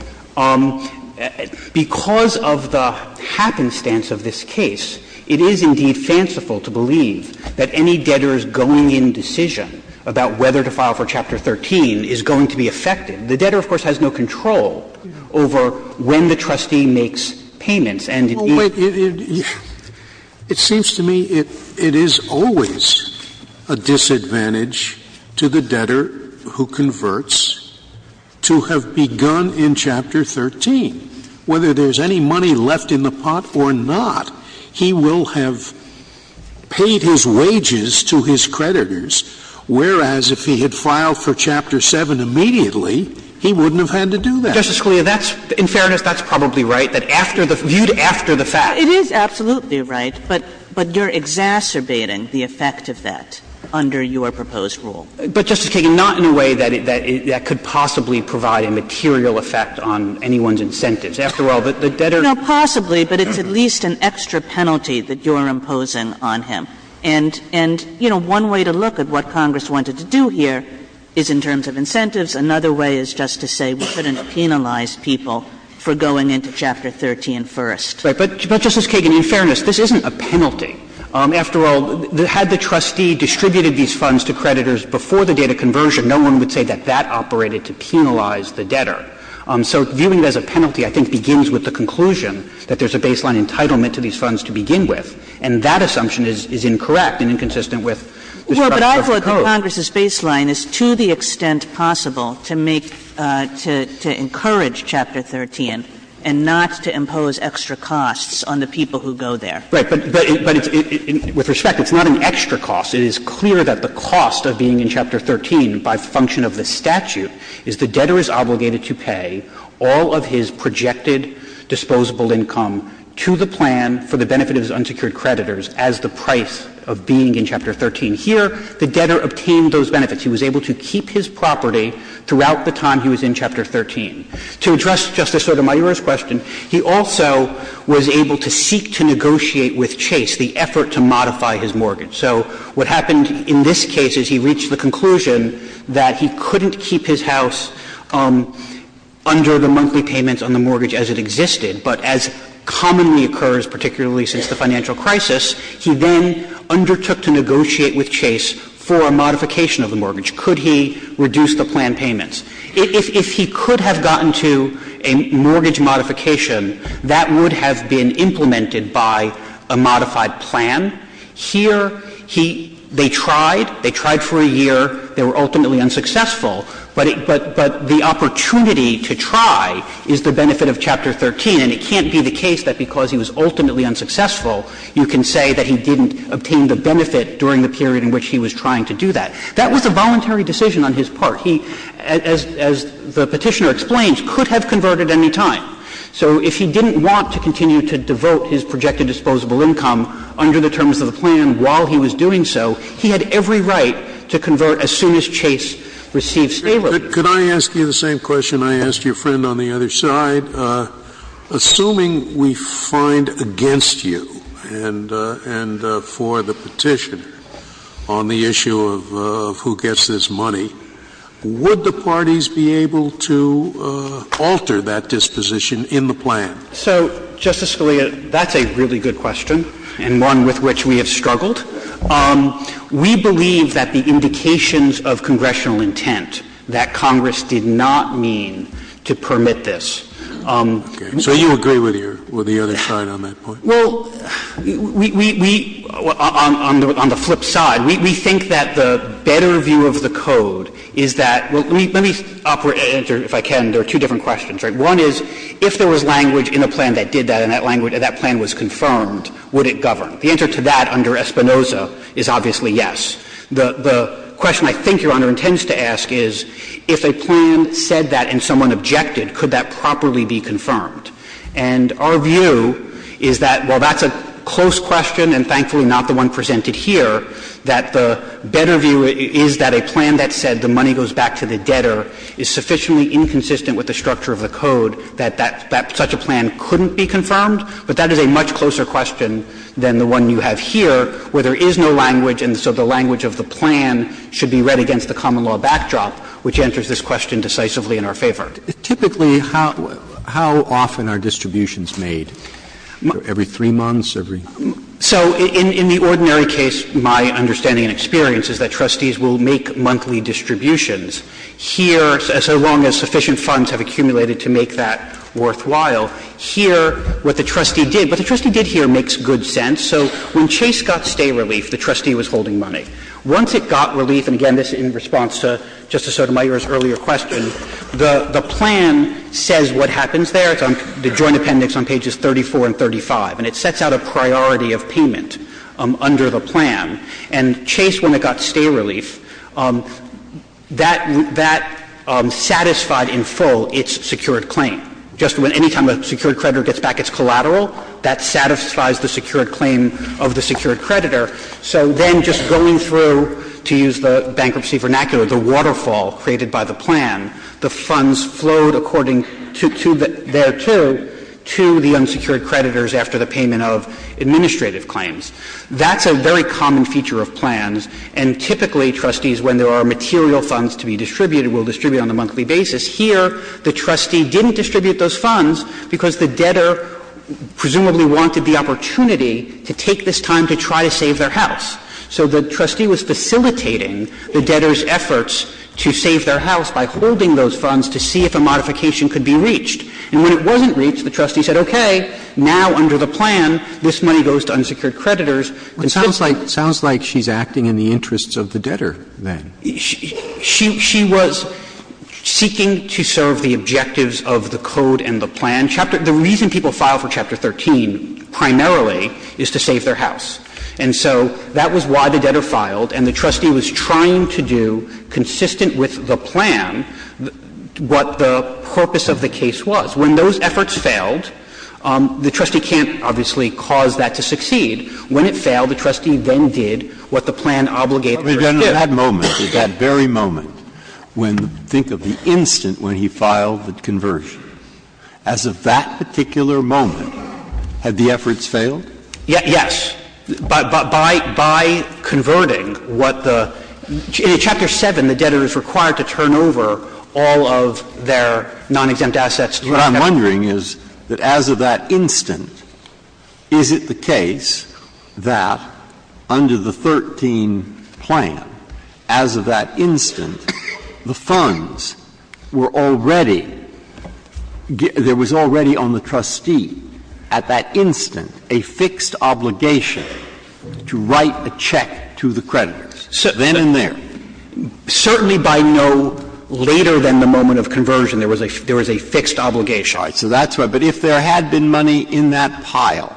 because of the happenstance of this case, it is indeed fanciful to believe that any debtor's going-in decision about whether to file for Chapter 13 is going to be effective. The debtor, of course, has no control over when the trustee makes payments, and it is — But it seems to me it is always a disadvantage to the debtor who converts to have begun in Chapter 13. Whether there's any money left in the pot or not, he will have paid his wages to his creditors, whereas if he had filed for Chapter 7 immediately, he wouldn't have had to do that. Justice Scalia, that's — in fairness, that's probably right, that after the — viewed as after the fact. It is absolutely right, but — but you're exacerbating the effect of that under your proposed rule. But, Justice Kagan, not in a way that — that could possibly provide a material effect on anyone's incentives. After all, the debtor — No, possibly, but it's at least an extra penalty that you're imposing on him. And — and, you know, one way to look at what Congress wanted to do here is in terms of incentives. Another way is just to say we couldn't penalize people for going into Chapter 13 first. Right. But, Justice Kagan, in fairness, this isn't a penalty. After all, had the trustee distributed these funds to creditors before the date of conversion, no one would say that that operated to penalize the debtor. So viewing it as a penalty, I think, begins with the conclusion that there's a baseline entitlement to these funds to begin with, and that assumption is — is incorrect and inconsistent with the structure of the code. But I thought that Congress's baseline is to the extent possible to make — to — to encourage Chapter 13 and not to impose extra costs on the people who go there. Right. But — but it's — with respect, it's not an extra cost. It is clear that the cost of being in Chapter 13 by function of the statute is the debtor is obligated to pay all of his projected disposable income to the plan for the benefit of his unsecured creditors as the price of being in Chapter 13. And here, the debtor obtained those benefits. He was able to keep his property throughout the time he was in Chapter 13. To address Justice Sotomayor's question, he also was able to seek to negotiate with Chase the effort to modify his mortgage. So what happened in this case is he reached the conclusion that he couldn't keep his house under the monthly payments on the mortgage as it existed, but as commonly occurs, particularly since the financial crisis, he then undertook to negotiate with Chase for a modification of the mortgage. Could he reduce the plan payments? If he could have gotten to a mortgage modification, that would have been implemented by a modified plan. Here, he — they tried, they tried for a year, they were ultimately unsuccessful. But it — but the opportunity to try is the benefit of Chapter 13, and it can't be the case that because he was ultimately unsuccessful, you can say that he didn't obtain the benefit during the period in which he was trying to do that. That was a voluntary decision on his part. He, as the Petitioner explains, could have converted any time. So if he didn't want to continue to devote his projected disposable income under the terms of the plan while he was doing so, he had every right to convert as soon as Chase received stay-over. Scalia. Could I ask you the same question I asked your friend on the other side? Assuming we find against you, and for the Petitioner, on the issue of who gets this money, would the parties be able to alter that disposition in the plan? So, Justice Scalia, that's a really good question, and one with which we have struggled. We believe that the indications of congressional intent that Congress did not mean to permit this. So you agree with your other side on that point? Well, we — on the flip side, we think that the better view of the code is that — let me offer an answer, if I can. There are two different questions, right? One is, if there was language in the plan that did that, and that plan was confirmed, would it govern? The answer to that under Espinoza is obviously yes. The question I think Your Honor intends to ask is, if a plan said that and someone objected, could that properly be confirmed? And our view is that while that's a close question, and thankfully not the one presented here, that the better view is that a plan that said the money goes back to the debtor is sufficiently inconsistent with the structure of the code that that — that such a plan couldn't be confirmed. But that is a much closer question than the one you have here, where there is no language and so the language of the plan should be read against the common law backdrop, which answers this question decisively in our favor. Typically, how — how often are distributions made? Every three months? Every — So in — in the ordinary case, my understanding and experience is that trustees will make monthly distributions. Here, so long as sufficient funds have accumulated to make that worthwhile, here what the trustee did — what the trustee did here makes good sense. So when Chase got stay relief, the trustee was holding money. Once it got relief — and again, this is in response to Justice Sotomayor's earlier question — the — the plan says what happens there. It's on — the Joint Appendix on pages 34 and 35. And it sets out a priority of payment under the plan. And Chase, when it got stay relief, that — that satisfied in full its secured claim. Just when — any time a secured creditor gets back its collateral, that satisfies the secured claim of the secured creditor. So then just going through, to use the bankruptcy vernacular, the waterfall created by the plan, the funds flowed according to — to their — to the unsecured creditors after the payment of administrative claims. That's a very common feature of plans. And typically, trustees, when there are material funds to be distributed, will distribute on a monthly basis. Here, the trustee didn't distribute those funds because the debtor presumably wanted the opportunity to take this time to try to save their house. So the trustee was facilitating the debtor's efforts to save their house by holding those funds to see if a modification could be reached. And when it wasn't reached, the trustee said, okay, now under the plan, this money goes to unsecured creditors. And so — But it sounds like — it sounds like she's acting in the interests of the debtor then. She — she was seeking to serve the objectives of the code and the plan. And the reason people file for Chapter 13 primarily is to save their house. And so that was why the debtor filed. And the trustee was trying to do, consistent with the plan, what the purpose of the case was. When those efforts failed, the trustee can't, obviously, cause that to succeed. When it failed, the trustee then did what the plan obligated her to do. But at that moment, at that very moment, when — think of the instant when he filed the conversion. As of that particular moment, had the efforts failed? Yes. By — by converting what the — in Chapter 7, the debtor is required to turn over all of their non-exempt assets. What I'm wondering is, that as of that instant, is it the case that under the 13 plan, as of that instant, the funds were already — there was already on the trustee at that instant a fixed obligation to write a check to the creditor, then and there? Certainly by no later than the moment of conversion, there was a — there was a fixed obligation. All right. So that's why. But if there had been money in that pile,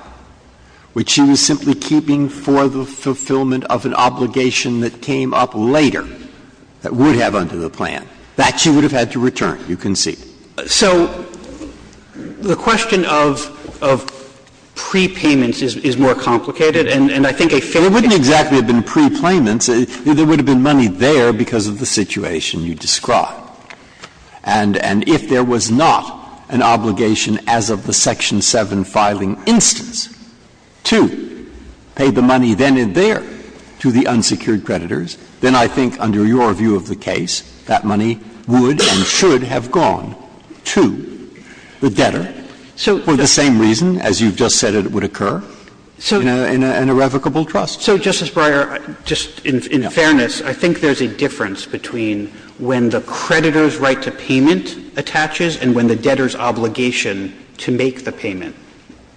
which she was simply keeping for the fulfillment of an obligation that came up later, that would have under the plan, that she would have had to return, you can see. So the question of — of prepayments is more complicated, and I think a fair — It wouldn't exactly have been prepayments. There would have been money there because of the situation you describe. And if there was not an obligation as of the Section 7 filing instance to pay the debtor to the unsecured creditors, then I think under your view of the case, that money would and should have gone to the debtor for the same reason, as you've just said it would occur, in an irrevocable trust. So, Justice Breyer, just in fairness, I think there's a difference between when the creditor's right to payment attaches and when the debtor's obligation to make the payment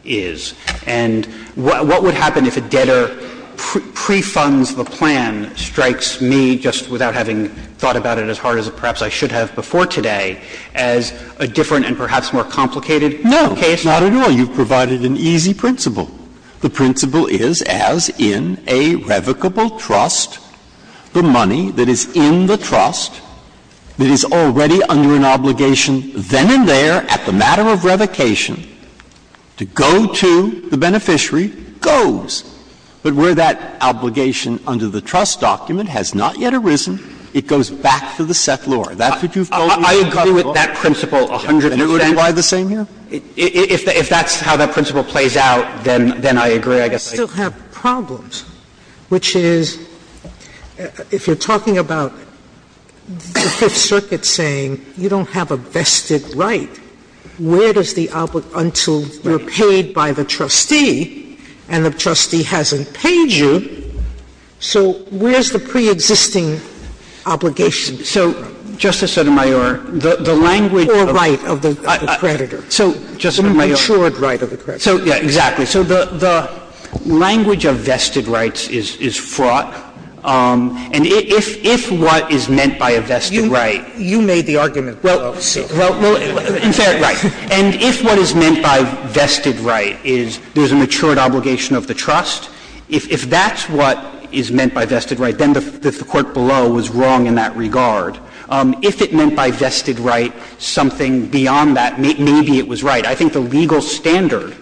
is. And what would happen if a debtor pre-funds the plan, strikes me, just without having thought about it as hard as perhaps I should have before today, as a different and perhaps more complicated case? No, not at all. You've provided an easy principle. The principle is, as in a revocable trust, the money that is in the trust that is already under an obligation, then and there, at the matter of revocation, to go to the beneficiary, goes. But where that obligation under the trust document has not yet arisen, it goes back to the settlor. That's what you've told me is the principle. I agree with that principle a hundred percent. And it wouldn't apply the same here? If that's how that principle plays out, then I agree. I guess I agree. I still have problems, which is, if you're talking about the Fifth Circuit saying you don't have a vested right, where does the until you're paid by the trustee and the trustee hasn't paid you, so where's the preexisting obligation? So, Justice Sotomayor, the language of the creditor, the insured right of the creditor. Exactly. So the language of vested rights is fraught, and if what is meant by a vested right is there's a matured obligation of the trust, if that's what is meant by vested right, then the Court below was wrong in that regard. If it meant by vested right something beyond that, maybe it was right. I think the legal standard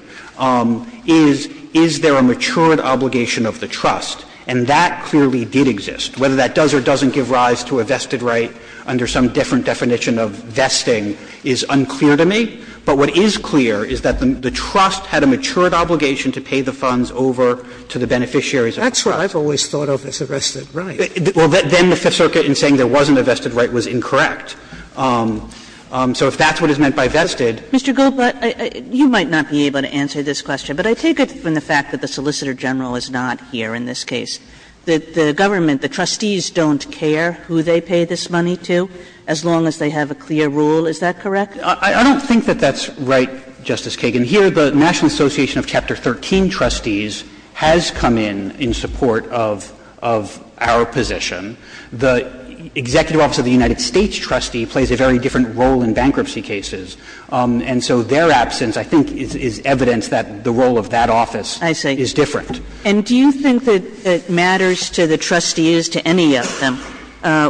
is, is there a matured obligation of the trust, and that clearly did exist. Whether that does or doesn't give rise to a vested right under some different definition of vesting is unclear to me, but what is clear is that the trust had a matured obligation to pay the funds over to the beneficiaries of the trust. That's what I've always thought of as a vested right. Well, then the Fifth Circuit in saying there wasn't a vested right was incorrect. So if that's what is meant by vested. Mr. Goldblatt, you might not be able to answer this question, but I take it from the fact that the Solicitor General is not here in this case. The government, the trustees don't care who they pay this money to, as long as they have a clear rule, is that correct? I don't think that that's right, Justice Kagan. Here the National Association of Chapter 13 Trustees has come in in support of our position. The Executive Office of the United States trustee plays a very different role in bankruptcy cases, and so their absence I think is evidence that the role of that office is different. And do you think that it matters to the trustees, to any of them,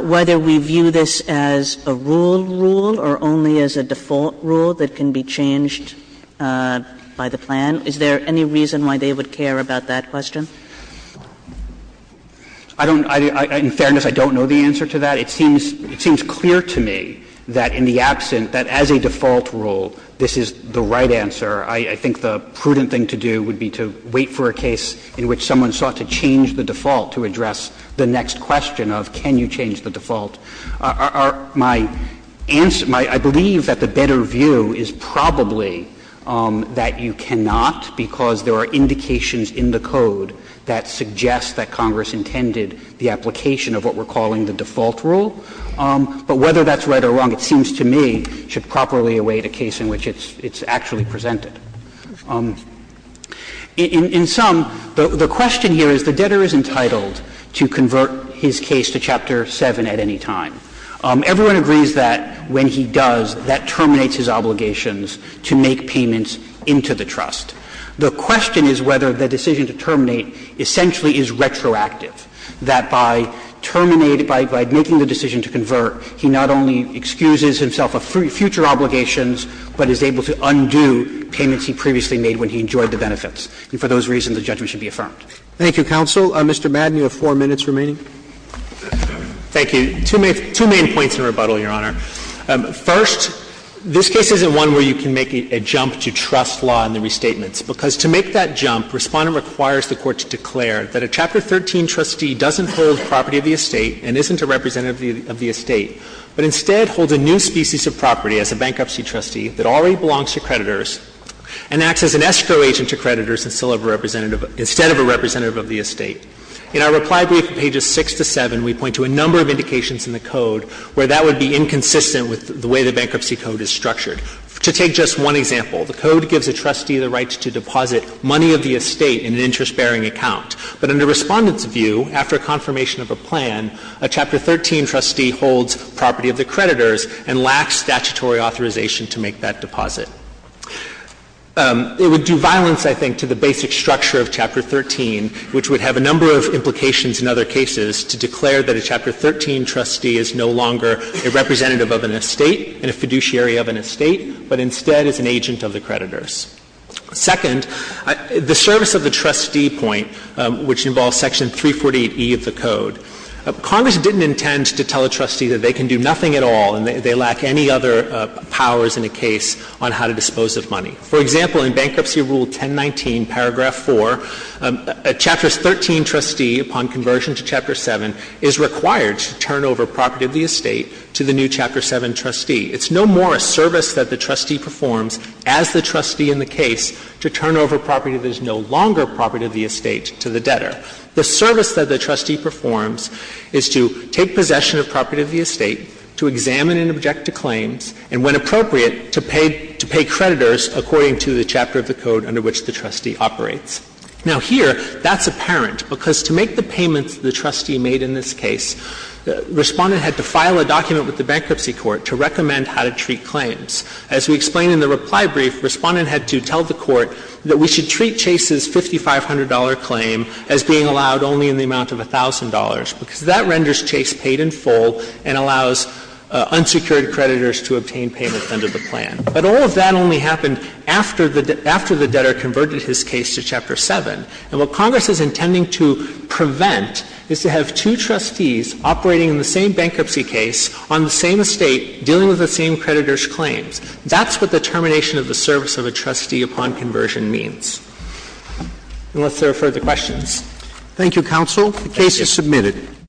whether we view this as a rule rule or only as a default rule that can be changed by the plan? Is there any reason why they would care about that question? I don't – in fairness, I don't know the answer to that. It seems clear to me that in the absent, that as a default rule, this is the right answer. I think the prudent thing to do would be to wait for a case in which someone sought to change the default to address the next question of can you change the default. My answer – I believe that the better view is probably that you cannot, because there are indications in the code that suggest that Congress intended the application of what we're calling the default rule. But whether that's right or wrong, it seems to me should properly await a case in which it's actually presented. In sum, the question here is the debtor is entitled to convert his case to Chapter 7 at any time. Everyone agrees that when he does, that terminates his obligations to make payments into the trust. The question is whether the decision to terminate essentially is retroactive, that by terminating, by making the decision to convert, he not only excuses himself of future obligations, but is able to undo payments he previously made when he enjoyed the benefits. And for those reasons, the judgment should be affirmed. Thank you, counsel. Mr. Madden, you have four minutes remaining. Thank you. Two main points in rebuttal, Your Honor. First, this case isn't one where you can make a jump to trust law in the restatements, because to make that jump, Respondent requires the Court to declare that a Chapter 13 trustee doesn't hold property of the estate and isn't a representative of the estate, but instead holds a new species of property as a bankruptcy trustee that already belongs to creditors and acts as an escrow agent to creditors instead of a representative of the estate. In our reply brief from pages 6 to 7, we point to a number of indications in the Code where that would be inconsistent with the way the Bankruptcy Code is structured. To take just one example, the Code gives a trustee the right to deposit money of the estate in an interest-bearing account, but under Respondent's view, after confirmation of a plan, a Chapter 13 trustee holds property of the creditors and lacks statutory authorization to make that deposit. It would do violence, I think, to the basic structure of Chapter 13, which would have a number of implications in other cases to declare that a Chapter 13 trustee is no longer a representative of an estate and a fiduciary of an estate, but instead is an agent of the creditors. Second, the service of the trustee point, which involves Section 348e of the Code. Congress didn't intend to tell a trustee that they can do nothing at all and they lack any other powers in a case on how to dispose of money. For example, in Bankruptcy Rule 1019, paragraph 4, a Chapter 13 trustee, upon conversion to Chapter 7, is required to turn over property of the estate to the new Chapter 7 trustee. It's no more a service that the trustee performs as the trustee in the case to turn over property that is no longer property of the estate to the debtor. The service that the trustee performs is to take possession of property of the estate, to examine and object to claims, and when appropriate, to pay creditors according to the Chapter of the Code under which the trustee operates. Now, here, that's apparent, because to make the payments the trustee made in this case, the trustee had to go to the bankruptcy court to recommend how to treat claims. As we explain in the reply brief, Respondent had to tell the court that we should treat Chase's $5,500 claim as being allowed only in the amount of $1,000, because that renders Chase paid in full and allows unsecured creditors to obtain payments under the plan. But all of that only happened after the debtor converted his case to Chapter 7. And what Congress is intending to prevent is to have two trustees operating in the same bankruptcy case on the same estate, dealing with the same creditors' claims. That's what the termination of the service of a trustee upon conversion means. Unless there are further questions. Roberts. Thank you, counsel. The case is submitted.